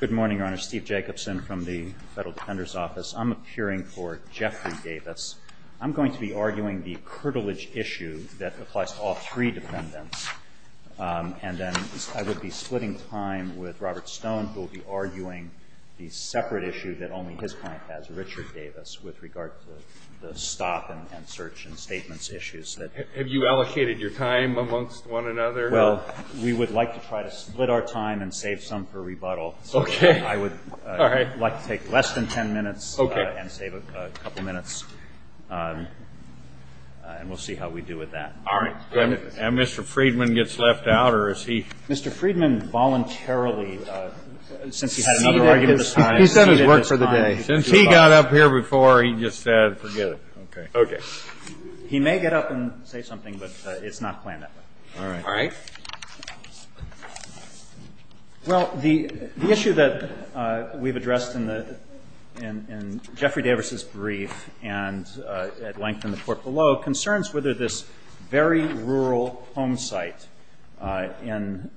Good morning, Your Honor. Steve Jacobson from the Federal Defender's Office. I'm appearing for Jeffrey Davis. I'm going to be arguing the curtilage issue that applies to all three defendants, and then I would be splitting time with Robert Stone, who will be arguing the separate issue that only his client has, Richard Davis, with regard to the stop and search and statements issues. Have you allocated your time amongst one another? Well, we would like to try to split our time and save some for rebuttal. Okay. I would like to take less than 10 minutes and save a couple minutes, and we'll see how we do with that. All right. And Mr. Friedman gets left out, or is he? Mr. Friedman voluntarily, since he had another argument at this time. He's done his work for the day. Since he got up here before, he just said, forget it. Okay. He may get up and say something, but it's not planned that way. All right. Well, the issue that we've addressed in Jeffrey Davis's brief and at length in the court below concerns whether this very rural home site in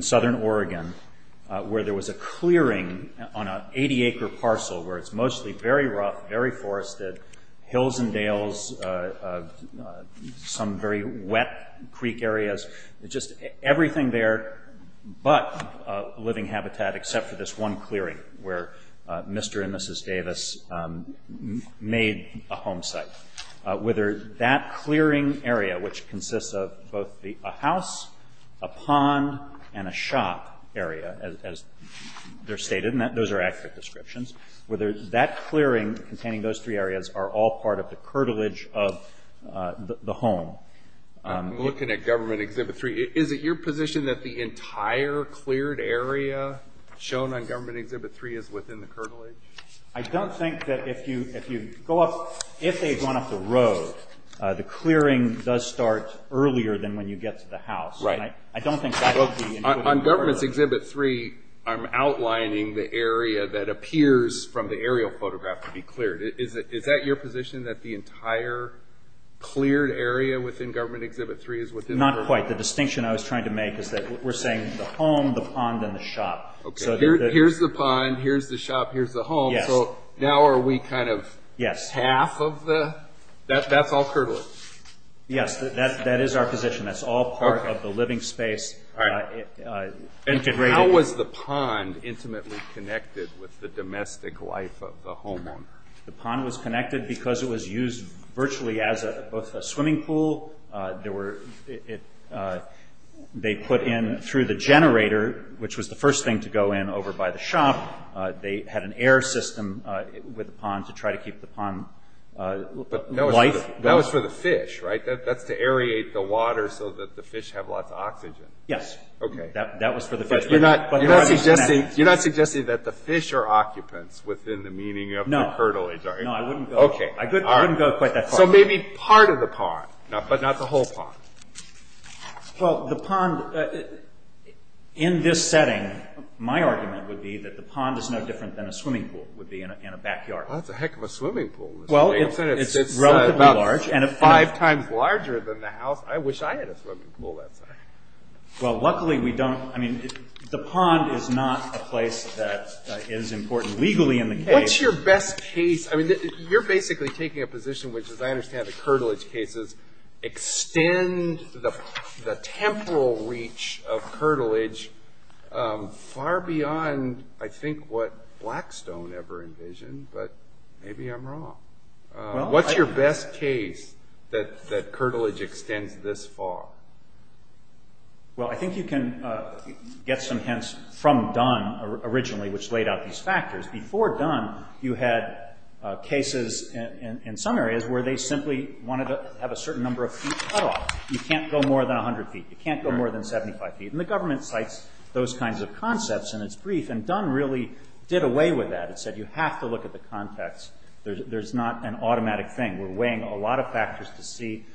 southern Oregon, where there was a clearing on an 80-acre parcel where it's mostly very rough, very forested, hills and dales, some very wet creek areas, just everything there but living habitat, except for this one clearing where Mr. and Mrs. Davis made a home site, whether that clearing area, which consists of both a house, a pond, and a shop area, as they're stated, and those are accurate descriptions, whether that clearing containing those three areas are all part of the curtilage of the home. I'm looking at Government Exhibit 3. Is it your position that the entire cleared area shown on Government Exhibit 3 is within the curtilage? I don't think that if you go up, if they've gone up the road, the clearing does start earlier than when you get to the house. Right. I don't think that would be included in the curtilage. On Government Exhibit 3, I'm outlining the area that appears from the aerial photograph to be cleared. Is that your position, that the entire cleared area within Government Exhibit 3 is within the curtilage? Not quite. The distinction I was trying to make is that we're saying the home, the pond, and the shop. Here's the pond. Here's the shop. Here's the home. Now are we half of the—that's all curtilage? Yes, that is our position. That's all part of the living space integrated. How was the pond intimately connected with the domestic life of the homeowner? The pond was connected because it was used virtually as both a swimming pool. They put in through the generator, which was the first thing to go in over by the shop. They had an air system with the pond to try to keep the pond life. That was for the fish, right? That's to aerate the water so that the fish have lots of oxygen. Yes. Okay. That was for the fish. You're not suggesting that the fish are occupants within the meaning of the curtilage, are you? No, I wouldn't go quite that far. So maybe part of the pond, but not the whole pond. Well, the pond in this setting, my argument would be that the pond is no different than a swimming pool would be in a backyard. That's a heck of a swimming pool. Well, it's relatively large and about five times larger than the house. I wish I had a swimming pool that size. Well, luckily we don't. I mean, the pond is not a place that is important legally in the case. What's your best case? I mean, you're basically taking a position, which as I understand the curtilage cases, extend the temporal reach of curtilage far beyond, I think, what Blackstone ever envisioned. But maybe I'm wrong. What's your best case that curtilage extends this far? Well, I think you can get some hints from Dunn originally, which laid out these factors. Before Dunn, you had cases in some areas where they simply wanted to have a certain number of feet cut off. You can't go more than 100 feet. You can't go more than 75 feet. And the government cites those kinds of concepts in its brief. And Dunn really did away with that. He said you have to look at the context. There's not an automatic thing. We're weighing a lot of factors to see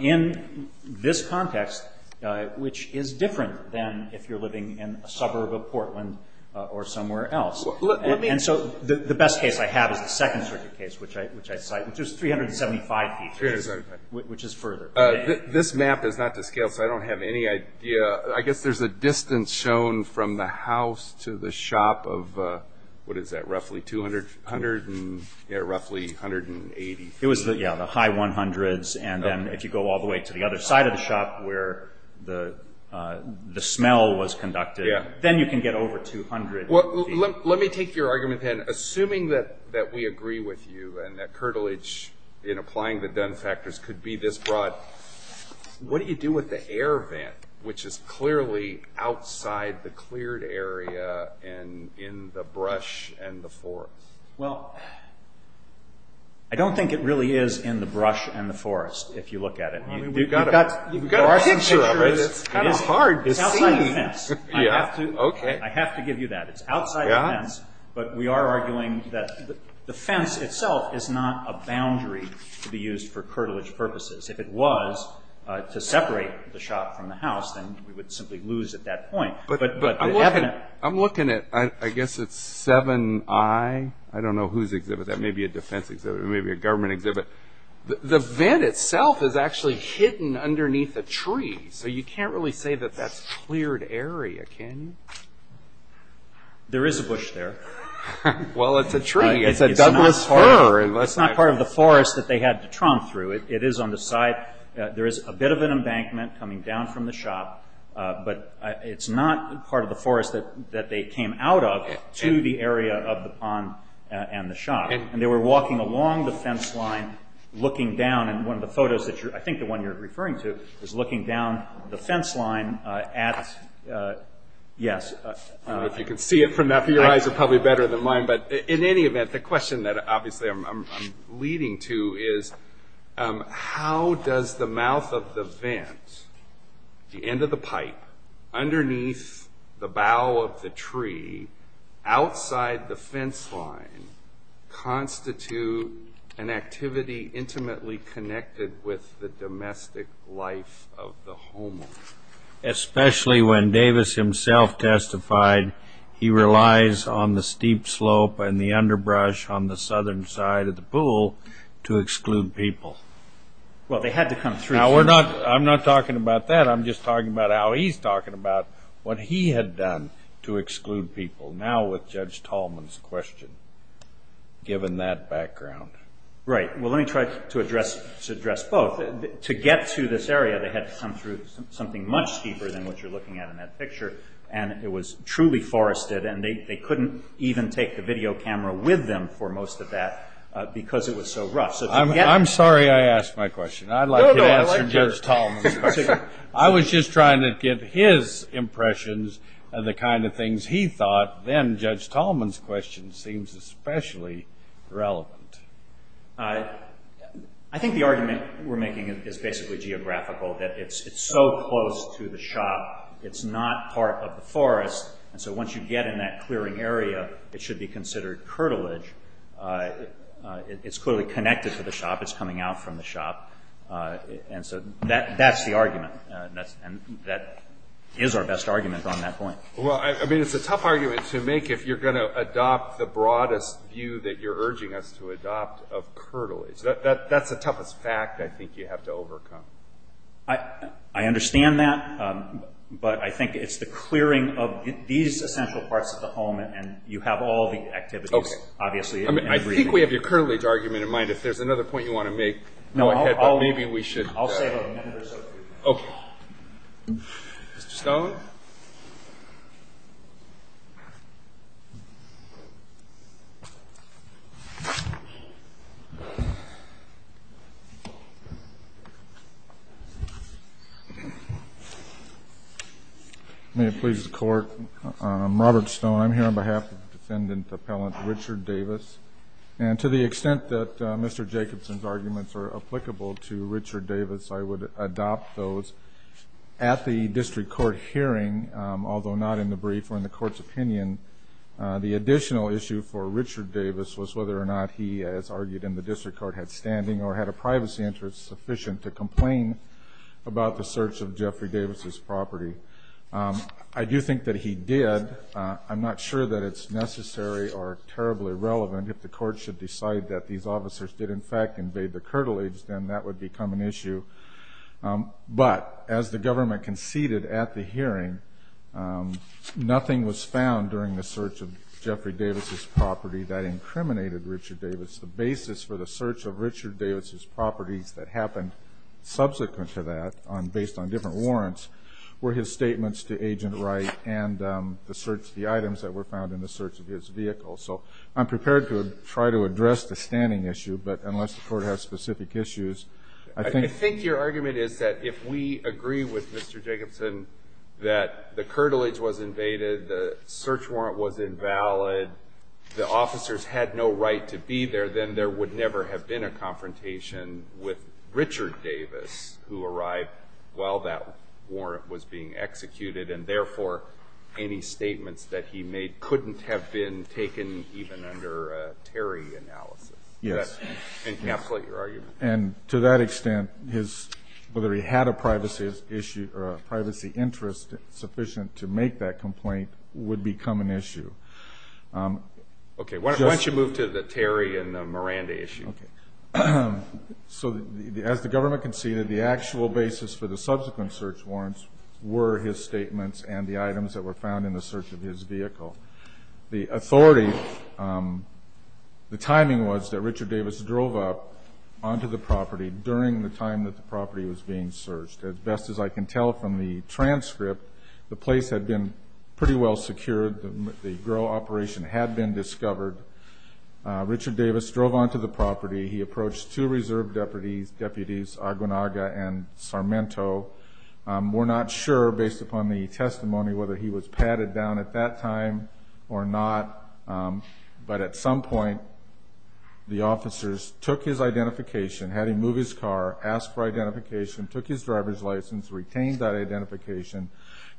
in this context, which is different than if you're living in a suburb of Portland or somewhere else. And so the best case I have is the Second Circuit case, which I cite, which is 375 feet, which is further. This map is not to scale, so I don't have any idea. I guess there's a distance shown from the house to the shop of roughly 180 feet. Yeah, the high 100s. And then if you go all the way to the other side of the shop where the smell was conducted, then you can get over 200 feet. Let me take your argument then. Assuming that we agree with you and that curtilage in applying the Dunn factors could be this broad, what do you do with the air vent, which is clearly outside the cleared area and in the brush and the forest? Well, I don't think it really is in the brush and the forest, if you look at it. You've got a picture of it. It's kind of hard to see. It's outside the fence. I have to give you that. It's outside the fence, but we are arguing that the fence itself is not a boundary to be used for curtilage purposes. If it was to separate the shop from the house, then we would simply lose at that point. I'm looking at, I guess it's 7i. I don't know whose exhibit that may be. It may be a defense exhibit. It may be a government exhibit. The vent itself is actually hidden underneath a tree, so you can't really say that that's cleared area, can you? There is a bush there. Well, it's a tree. It's a Douglas fir. It's not part of the forest that they had to tromp through. It is on the side. There is a bit of an embankment coming down from the shop, but it's not part of the forest that they came out of to the area of the pond and the shop. They were walking along the fence line looking down. One of the photos, I think the one you're referring to, is looking down the fence line at, yes. I don't know if you can see it from that. Your eyes are probably better than mine. In any event, the question that obviously I'm leading to is, how does the mouth of the vent, the end of the pipe, underneath the bow of the tree, outside the fence line, constitute an activity intimately connected with the domestic life of the homeowner? Especially when Davis himself testified he relies on the steep slope and the underbrush on the southern side of the pool to exclude people. Well, they had to come through. I'm not talking about that. I'm just talking about how he's talking about what he had done to exclude people. Now with Judge Tallman's question, given that background. Right. Well, let me try to address both. To get to this area, they had to come through something much steeper than what you're looking at in that picture. It was truly forested. They couldn't even take the video camera with them for most of that because it was so rough. I'm sorry I asked my question. I'd like to answer Judge Tallman's question. I was just trying to get his impressions of the kind of things he thought. Then Judge Tallman's question seems especially relevant. I think the argument we're making is basically geographical. It's so close to the shop. It's not part of the forest. Once you get in that clearing area, it should be considered curtilage. It's clearly connected to the shop. It's coming out from the shop. That's the argument. That is our best argument on that point. It's a tough argument to make if you're going to adopt the broadest view that you're urging us to adopt of curtilage. That's the toughest fact I think you have to overcome. I understand that, but I think it's the clearing of these essential parts of the home. You have all the activities, obviously. I think we have your curtilage argument in mind. If there's another point you want to make, go ahead. I'll save a minute or so for you. Okay. Mr. Stone? May it please the Court, I'm Robert Stone. I'm here on behalf of Defendant Appellant Richard Davis. And to the extent that Mr. Jacobson's arguments are applicable to Richard Davis, I would adopt those. At the district court hearing, although not in the brief or in the court's opinion, the additional issue for Richard Davis was whether or not he, as argued in the district court, had standing or had a privacy interest sufficient to complain about the search of Jeffrey Davis's property. I do think that he did. I'm not sure that it's necessary or terribly relevant. If the court should decide that these officers did in fact invade the curtilage, then that would become an issue. But as the government conceded at the hearing, nothing was found during the search of Jeffrey Davis's property that incriminated Richard Davis. The basis for the search of Richard Davis's properties that happened subsequent to that, based on different warrants, were his statements to Agent Wright and the items that were found in the search of his vehicle. So I'm prepared to try to address the standing issue, but unless the court has specific issues, I think... I think your argument is that if we agree with Mr. Jacobson that the curtilage was invaded, the search warrant was invalid, the officers had no right to be there, then there would never have been a confrontation with Richard Davis who arrived while that warrant was being executed, and therefore any statements that he made couldn't have been taken even under a Terry analysis. Yes. Does that encapsulate your argument? And to that extent, whether he had a privacy issue or a privacy interest sufficient to make that complaint would become an issue. Okay. Why don't you move to the Terry and Miranda issue? Okay. So as the government conceded, the actual basis for the subsequent search warrants were his statements and the items that were found in the search of his vehicle. The authority, the timing was that Richard Davis drove up onto the property during the time that the property was being searched. As best as I can tell from the transcript, the place had been pretty well secured. The GRRRA operation had been discovered. Richard Davis drove onto the property. He approached two reserve deputies, Aguanaga and Sarmento. We're not sure, based upon the testimony, whether he was patted down at that time or not, but at some point the officers took his identification, had him move his car, asked for identification, took his driver's license, retained that identification,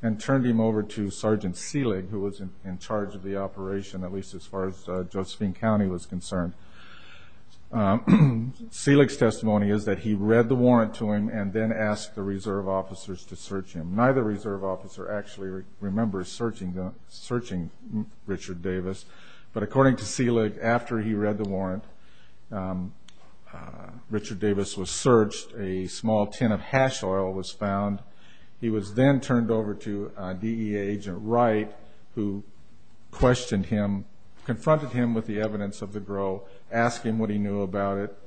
and turned him over to Sergeant Selig, who was in charge of the operation, at least as far as Josephine County was concerned. Selig's testimony is that he read the warrant to him and then asked the reserve officers to search him. Neither reserve officer actually remembers searching Richard Davis, but according to Selig, after he read the warrant, Richard Davis was searched. A small tin of hash oil was found. He was then turned over to DEA Agent Wright, who confronted him with the evidence of the GRRRA, asked him what he knew about it.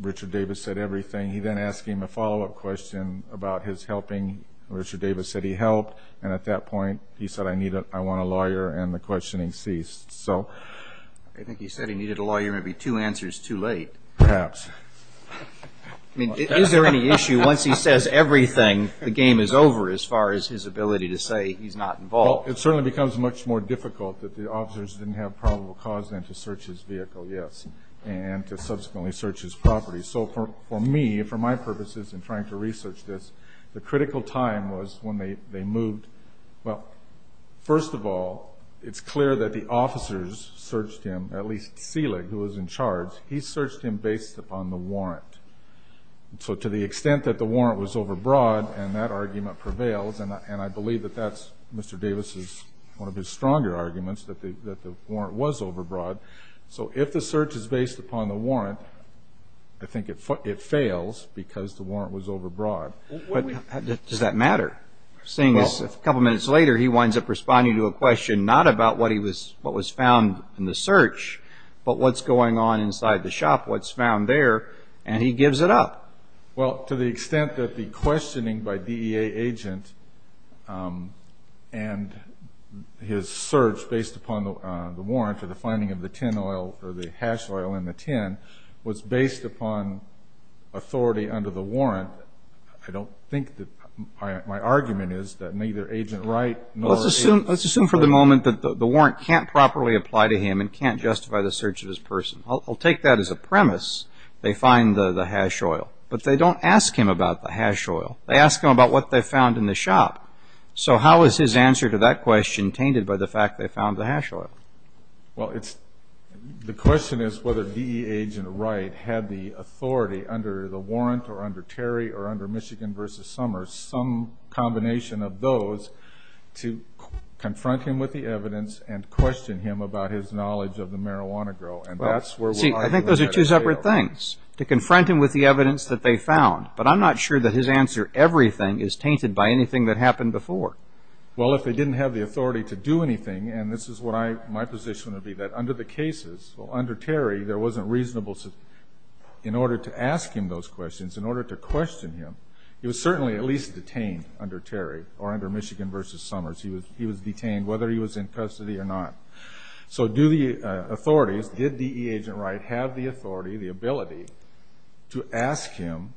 Richard Davis said everything. He then asked him a follow-up question about his helping. Richard Davis said he helped, and at that point he said, I want a lawyer, and the questioning ceased. I think he said he needed a lawyer and it would be two answers too late. Perhaps. I mean, is there any issue once he says everything, the game is over as far as his ability to say he's not involved? Well, it certainly becomes much more difficult that the officers didn't have probable cause then to search his vehicle, yes, and to subsequently search his property. So for me, for my purposes in trying to research this, the critical time was when they moved. Well, first of all, it's clear that the officers searched him, at least Selig, who was in charge. He searched him based upon the warrant. So to the extent that the warrant was overbroad, and that argument prevails, and I believe that that's Mr. Davis' one of his stronger arguments, that the warrant was overbroad. So if the search is based upon the warrant, I think it fails because the warrant was overbroad. Does that matter? Seeing as a couple minutes later he winds up responding to a question not about what was found in the search, but what's going on inside the shop, what's found there, and he gives it up. Well, to the extent that the questioning by DEA agent and his search based upon the warrant or the finding of the tin oil or the hash oil in the tin was based upon authority under the warrant, I don't think that my argument is that neither Agent Wright nor Agent Selig. Let's assume for the moment that the warrant can't properly apply to him and can't justify the search of his person. I'll take that as a premise. They find the hash oil, but they don't ask him about the hash oil. They ask him about what they found in the shop. So how is his answer to that question tainted by the fact they found the hash oil? Well, the question is whether DEA agent Wright had the authority under the warrant or under Terry or under Michigan v. Summers, some combination of those, to confront him with the evidence and question him about his knowledge of the marijuana grow. See, I think those are two separate things, to confront him with the evidence that they found. But I'm not sure that his answer, everything, is tainted by anything that happened before. Well, if they didn't have the authority to do anything, and this is what my position would be, that under the cases, well, under Terry, there wasn't reasonable, in order to ask him those questions, in order to question him, he was certainly at least detained under Terry or under Michigan v. Summers. He was detained whether he was in custody or not. So do the authorities, did DEA agent Wright have the authority, the ability, to ask him,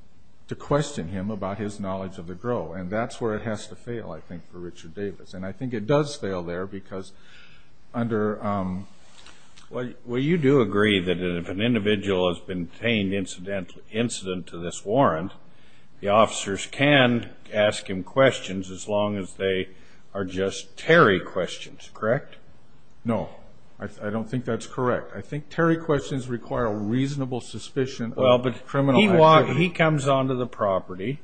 to question him about his knowledge of the grow? And that's where it has to fail, I think, for Richard Davis. And I think it does fail there because under... Well, you do agree that if an individual has been detained incident to this warrant, the officers can ask him questions as long as they are just Terry questions, correct? No, I don't think that's correct. I think Terry questions require a reasonable suspicion of criminal activity. He comes onto the property,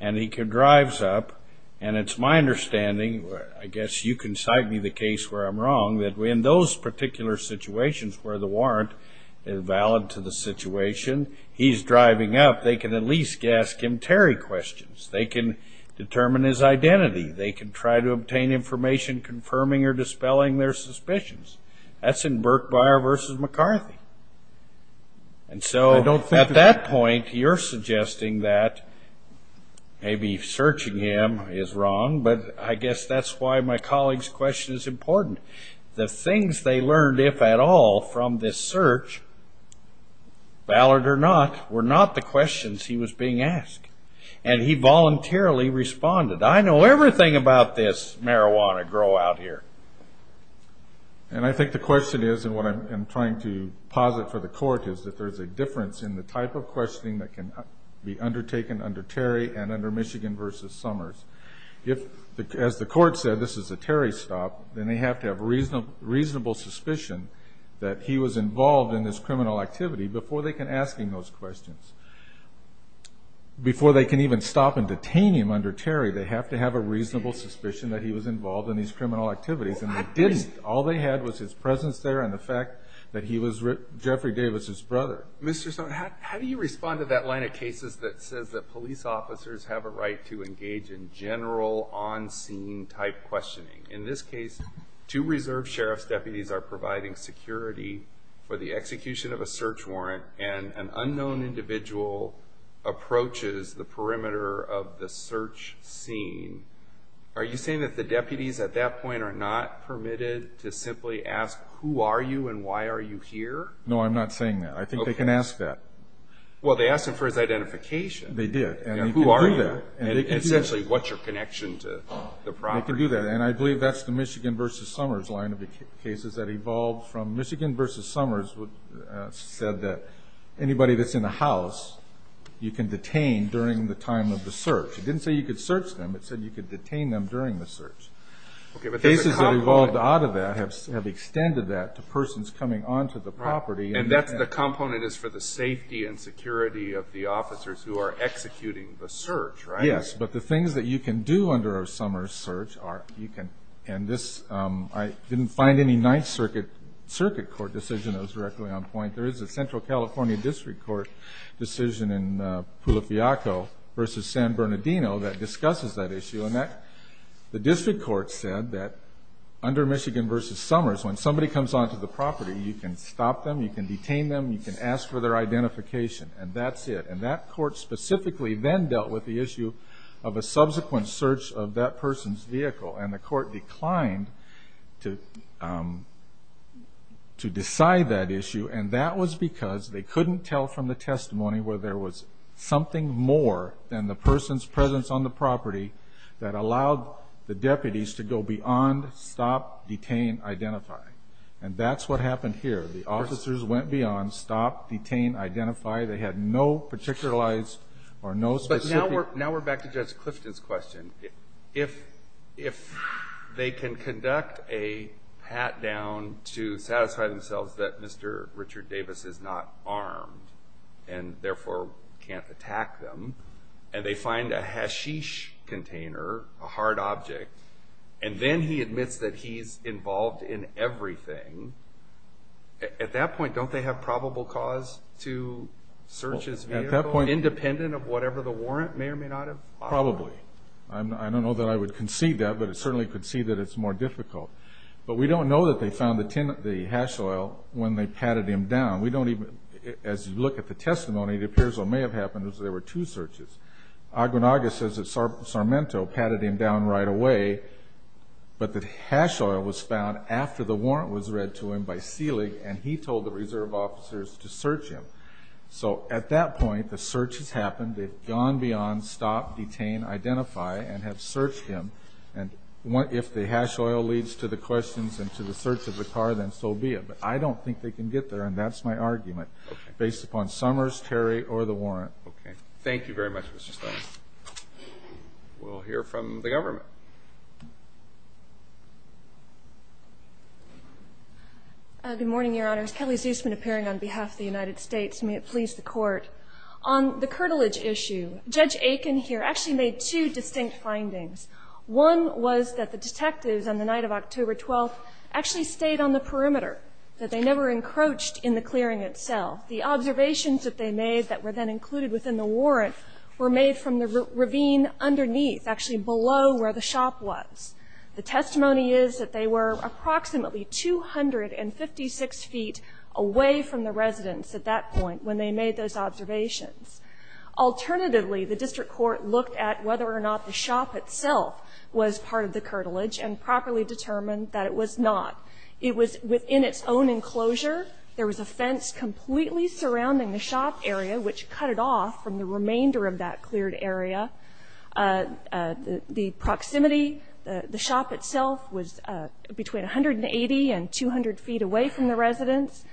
and he drives up, and it's my understanding, I guess you can cite me the case where I'm wrong, that in those particular situations where the warrant is valid to the situation, he's driving up, they can at least ask him Terry questions. They can determine his identity. They can try to obtain information confirming or dispelling their suspicions. That's in Burke-Byer v. McCarthy. And so at that point, you're suggesting that maybe searching him is wrong, but I guess that's why my colleague's question is important. The things they learned, if at all, from this search, valid or not, were not the questions he was being asked, and he voluntarily responded. I know everything about this marijuana grow out here. And I think the question is, and what I'm trying to posit for the court, is that there's a difference in the type of questioning that can be undertaken under Terry and under Michigan v. Summers. If, as the court said, this is a Terry stop, then they have to have a reasonable suspicion that he was involved in this criminal activity before they can ask him those questions. Before they can even stop and detain him under Terry, they have to have a reasonable suspicion that he was involved in these criminal activities. All they had was his presence there and the fact that he was Jeffrey Davis's brother. Mr. Summers, how do you respond to that line of cases that says that police officers have a right to engage in general on-scene type questioning? In this case, two reserve sheriff's deputies are providing security for the execution of a search warrant, and an unknown individual approaches the perimeter of the search scene. Are you saying that the deputies at that point are not permitted to simply ask, Who are you and why are you here? No, I'm not saying that. I think they can ask that. Well, they asked him for his identification. They did. Who are you? And essentially, what's your connection to the property? They can do that, and I believe that's the Michigan v. Summers line of cases that evolved from anybody that's in a house, you can detain during the time of the search. It didn't say you could search them. It said you could detain them during the search. Cases that evolved out of that have extended that to persons coming onto the property. And the component is for the safety and security of the officers who are executing the search, right? Yes, but the things that you can do under a Summers search are you can I didn't find any Ninth Circuit court decision that was directly on point. There is a Central California district court decision in Pulifiaco v. San Bernardino that discusses that issue, and the district court said that under Michigan v. Summers, when somebody comes onto the property, you can stop them, you can detain them, you can ask for their identification, and that's it. And that court specifically then dealt with the issue of a subsequent search of that person's vehicle, and the court declined to decide that issue, and that was because they couldn't tell from the testimony where there was something more than the person's presence on the property that allowed the deputies to go beyond stop, detain, identify. And that's what happened here. The officers went beyond stop, detain, identify. They had no particularized or no specific But now we're back to Judge Clifton's question. If they can conduct a pat-down to satisfy themselves that Mr. Richard Davis is not armed and therefore can't attack them, and they find a hashish container, a hard object, and then he admits that he's involved in everything, at that point don't they have probable cause to search his vehicle, independent of whatever the warrant may or may not have offered? Probably. I don't know that I would concede that, but I certainly concede that it's more difficult. But we don't know that they found the hash oil when they patted him down. As you look at the testimony, it appears what may have happened is there were two searches. Aguinaldo says that Sarmento patted him down right away, but the hash oil was found after the warrant was read to him by Seelig, and he told the reserve officers to search him. So at that point the search has happened. They've gone beyond stop, detain, identify, and have searched him. And if the hash oil leads to the questions and to the search of the car, then so be it. But I don't think they can get there, and that's my argument, based upon Summers, Terry, or the warrant. Okay. Thank you very much, Mr. Stine. We'll hear from the government. Good morning, Your Honors. Kelly Zusman appearing on behalf of the United States. May it please the Court. On the curtilage issue, Judge Aiken here actually made two distinct findings. One was that the detectives on the night of October 12th actually stayed on the perimeter, that they never encroached in the clearing itself. The observations that they made that were then included within the warrant were made from the ravine underneath, actually below where the shop was. The testimony is that they were approximately 256 feet away from the residence at that point when they made those observations. Alternatively, the district court looked at whether or not the shop itself was part of the curtilage and properly determined that it was not. It was within its own enclosure. There was a fence completely surrounding the shop area, which cut it off from the remainder of that cleared area. The proximity, the shop itself was between 180 and 200 feet away from the residence.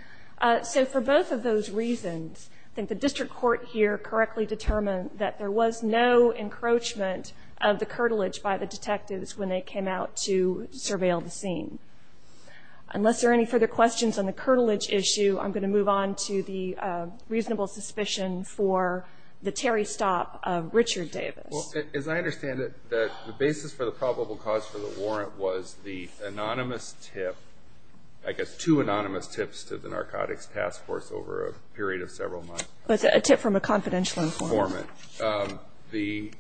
So for both of those reasons, I think the district court here correctly determined that there was no encroachment of the curtilage by the detectives when they came out to surveil the scene. Unless there are any further questions on the curtilage issue, I'm going to move on to the reasonable suspicion for the Terry stop of Richard Davis. Well, as I understand it, the basis for the probable cause for the warrant was the anonymous tip, I guess two anonymous tips, to the Narcotics Task Force over a period of several months. A tip from a confidential informant. Informant. The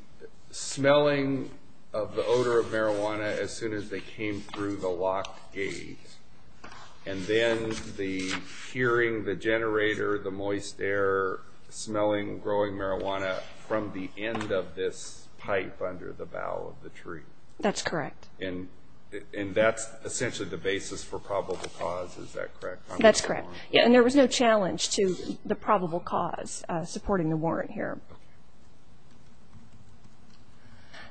smelling of the odor of marijuana as soon as they came through the locked gate and then hearing the generator, the moist air, smelling, growing marijuana from the end of this pipe under the bough of the tree. That's correct. And that's essentially the basis for probable cause, is that correct? That's correct. And there was no challenge to the probable cause supporting the warrant here.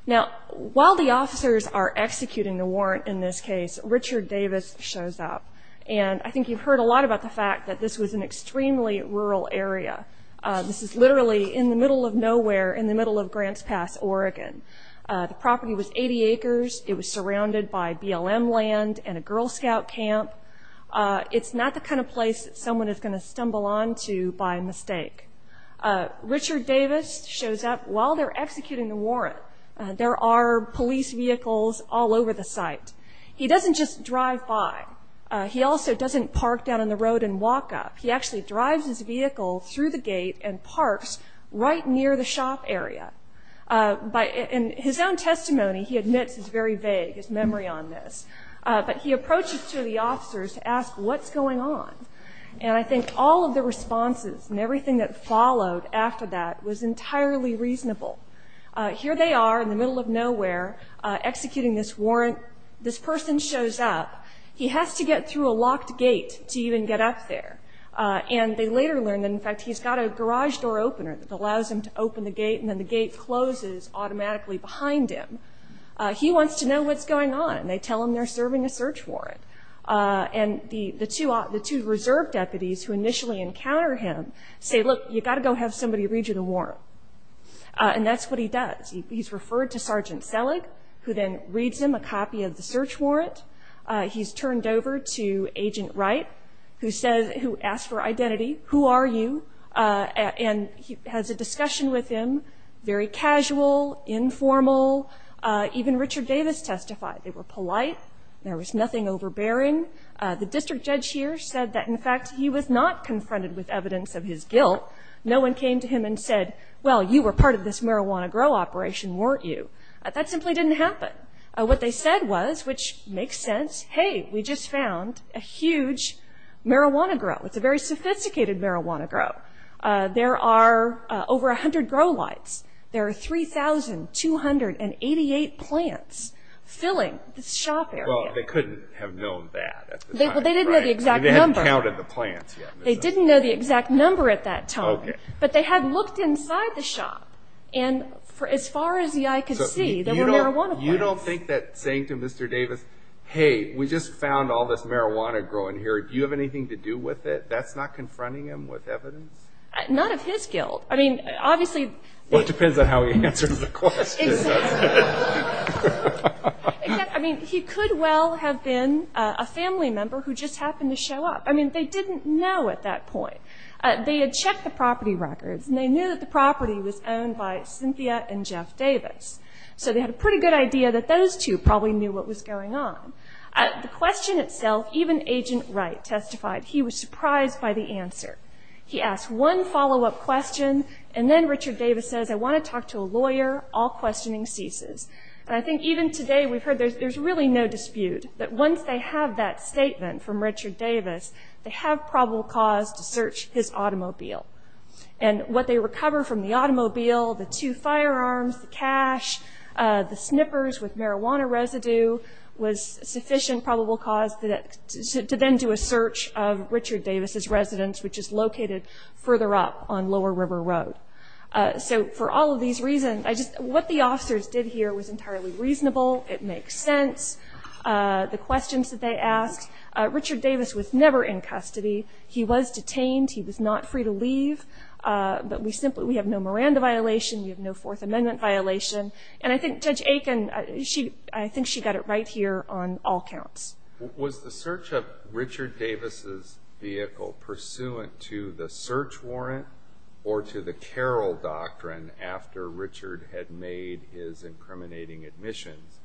Now, while the officers are executing the warrant in this case, Richard Davis shows up. And I think you've heard a lot about the fact that this was an extremely rural area. This is literally in the middle of nowhere, in the middle of Grants Pass, Oregon. The property was 80 acres. It was surrounded by BLM land and a Girl Scout camp. It's not the kind of place that someone is going to stumble onto by mistake. Richard Davis shows up while they're executing the warrant. There are police vehicles all over the site. He doesn't just drive by. He also doesn't park down on the road and walk up. He actually drives his vehicle through the gate and parks right near the shop area. In his own testimony, he admits it's very vague, his memory on this. But he approaches two of the officers to ask what's going on. And I think all of the responses and everything that followed after that was entirely reasonable. Here they are in the middle of nowhere executing this warrant. This person shows up. He has to get through a locked gate to even get up there. And they later learn that, in fact, he's got a garage door opener that allows him to open the gate, and then the gate closes automatically behind him. He wants to know what's going on, and they tell him they're serving a search warrant. And the two reserve deputies who initially encounter him say, look, you've got to go have somebody read you the warrant. And that's what he does. He's referred to Sergeant Selig, who then reads him a copy of the search warrant. He's turned over to Agent Wright, who asks for identity, who are you, and has a discussion with him, very casual, informal. Even Richard Davis testified. They were polite. There was nothing overbearing. The district judge here said that, in fact, he was not confronted with evidence of his guilt. No one came to him and said, well, you were part of this marijuana grow operation, weren't you? That simply didn't happen. What they said was, which makes sense, hey, we just found a huge marijuana grow. It's a very sophisticated marijuana grow. There are over 100 grow lights. There are 3,288 plants filling the shop area. Well, they couldn't have known that at the time, right? They didn't know the exact number. They hadn't counted the plants yet. They didn't know the exact number at that time. But they had looked inside the shop, and as far as the eye could see, there were marijuana plants. You don't think that saying to Mr. Davis, hey, we just found all this marijuana grow in here, do you have anything to do with it, that's not confronting him with evidence? Not of his guilt. I mean, obviously. Well, it depends on how he answers the question. Exactly. I mean, he could well have been a family member who just happened to show up. I mean, they didn't know at that point. They had checked the property records, and they knew that the property was owned by Cynthia and Jeff Davis. So they had a pretty good idea that those two probably knew what was going on. The question itself, even Agent Wright testified he was surprised by the answer. He asked one follow-up question, and then Richard Davis says, I want to talk to a lawyer. All questioning ceases. And I think even today we've heard there's really no dispute that once they have that statement from Richard Davis, they have probable cause to search his automobile. And what they recover from the automobile, the two firearms, the cash, the snippers with marijuana residue, was sufficient probable cause to then do a search of Richard Davis' residence, which is located further up on Lower River Road. So for all of these reasons, what the officers did here was entirely reasonable. It makes sense. The questions that they asked, Richard Davis was never in custody. He was detained. He was not free to leave. But we have no Miranda violation. We have no Fourth Amendment violation. And I think Judge Aiken, I think she got it right here on all counts. Was the search of Richard Davis' vehicle pursuant to the search warrant or to the Carroll doctrine after Richard had made his incriminating admissions,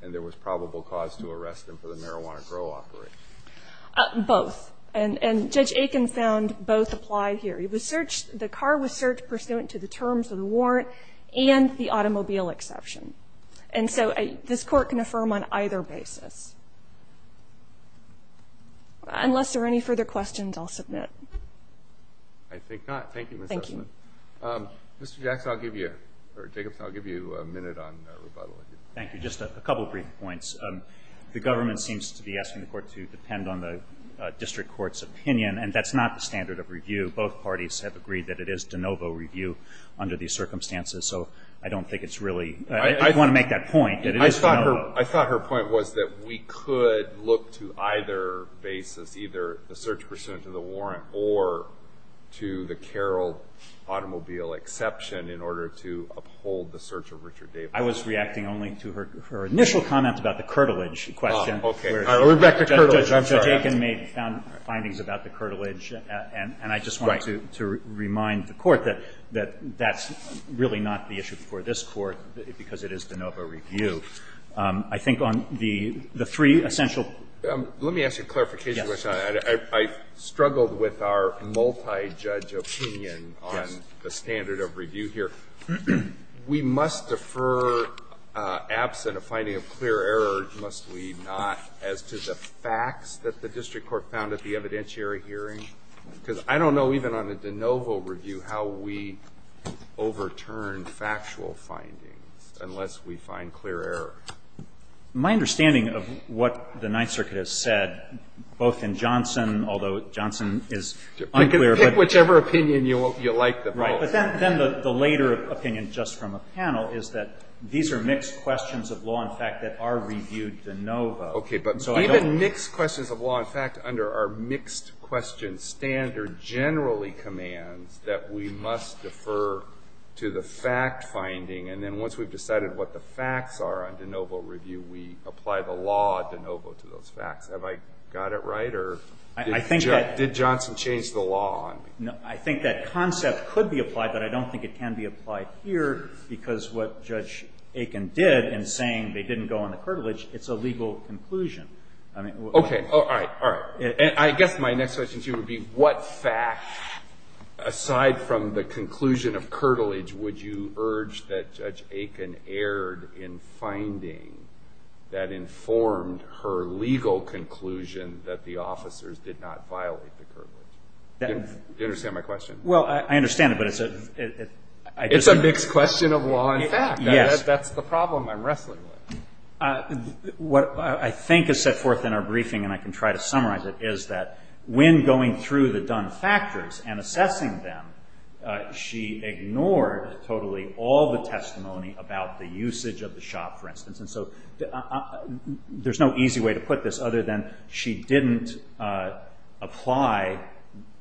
and there was probable cause to arrest him for the marijuana grow operation? Both. And Judge Aiken found both apply here. He was searched the car was searched pursuant to the terms of the warrant and the automobile exception. And so this Court can affirm on either basis. Unless there are any further questions, I'll submit. I think not. Thank you, Ms. Sussman. Thank you. Mr. Jackson, I'll give you or Jacobs, I'll give you a minute on rebuttal. Thank you. Just a couple brief points. The government seems to be asking the Court to depend on the district court's opinion, and that's not the standard of review. Both parties have agreed that it is de novo review under these circumstances, so I don't think it's really. I want to make that point. I thought her point was that we could look to either basis, either the search pursuant to the warrant or to the Carroll automobile exception in order to uphold the search of Richard Davis. I was reacting only to her initial comments about the curtilage question. Okay. We're back to curtilage. I'm sorry. Judge Aiken made found findings about the curtilage, and I just wanted to remind the Court that that's really not the issue for this Court, because it is de novo review. I think on the three essential. Let me ask you a clarification. I struggled with our multi-judge opinion on the standard of review here. We must defer, absent a finding of clear error, must we not, as to the facts that the district court found at the evidentiary hearing? Because I don't know even on a de novo review how we overturn factual findings unless we find clear error. My understanding of what the Ninth Circuit has said, both in Johnson, although Johnson is unclear. Pick whichever opinion you like the most. Right. But then the later opinion just from a panel is that these are mixed questions of law and fact that are reviewed de novo. Okay. But even mixed questions of law and fact under our mixed question standard generally commands that we must defer to the fact finding, and then once we've decided what the facts are on de novo review, we apply the law de novo to those facts. Have I got it right, or did Johnson change the law on me? I think that concept could be applied, but I don't think it can be applied here because what Judge Aiken did in saying they didn't go on the curtilage, it's a legal conclusion. Okay. All right. All right. I guess my next question to you would be what fact, aside from the conclusion of curtilage, would you urge that Judge Aiken erred in finding that informed her legal conclusion that the officers did not violate the curtilage? Do you understand my question? Well, I understand it, but it's a mixed question of law and fact. Yes. That's the problem I'm wrestling with. What I think is set forth in our briefing, and I can try to summarize it, is that when going through the done factors and assessing them, she ignored totally all the testimony about the usage of the shop, for instance. And so there's no easy way to put this other than she didn't apply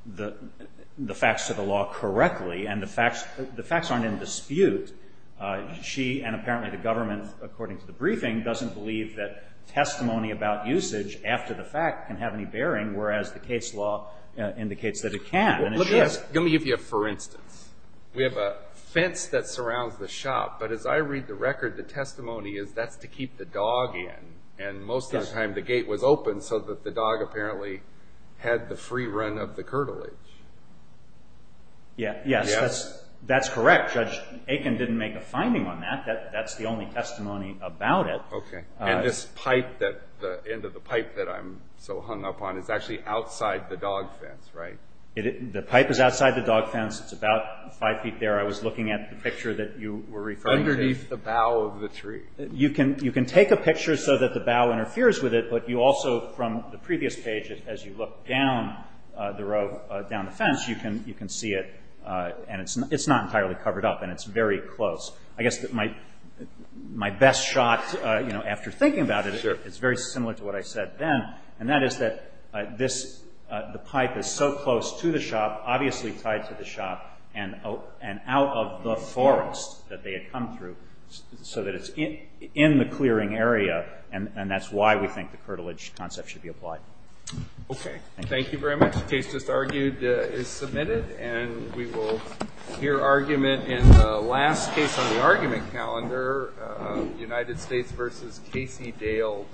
the facts to the law correctly, and the facts aren't in dispute. She, and apparently the government, according to the briefing, doesn't believe that testimony about usage after the fact can have any bearing, whereas the case law indicates that it can. Let me give you a for instance. We have a fence that surrounds the shop, but as I read the record, the testimony is that's to keep the dog in, and most of the time the gate was open so that the dog apparently had the free run of the curtilage. Yes. That's correct. Judge Aiken didn't make a finding on that. That's the only testimony about it. Okay. And this pipe, the end of the pipe that I'm so hung up on, is actually outside the dog fence, right? The pipe is outside the dog fence. It's about five feet there. I was looking at the picture that you were referring to. Underneath the bow of the tree. You can take a picture so that the bow interferes with it, but you also, from the previous page, as you look down the row, down the fence, you can see it, and it's not entirely covered up, and it's very close. I guess my best shot, you know, after thinking about it, is very similar to what I said then, and that is that this, the pipe is so close to the shop, obviously tied to the shop, and out of the forest that they had come through, so that it's in the clearing area, and that's why we think the curtilage concept should be applied. Okay. Thank you very much. The case just argued is submitted, and we will hear argument in the last case on the argument calendar, United States versus Casey Dale Mayer.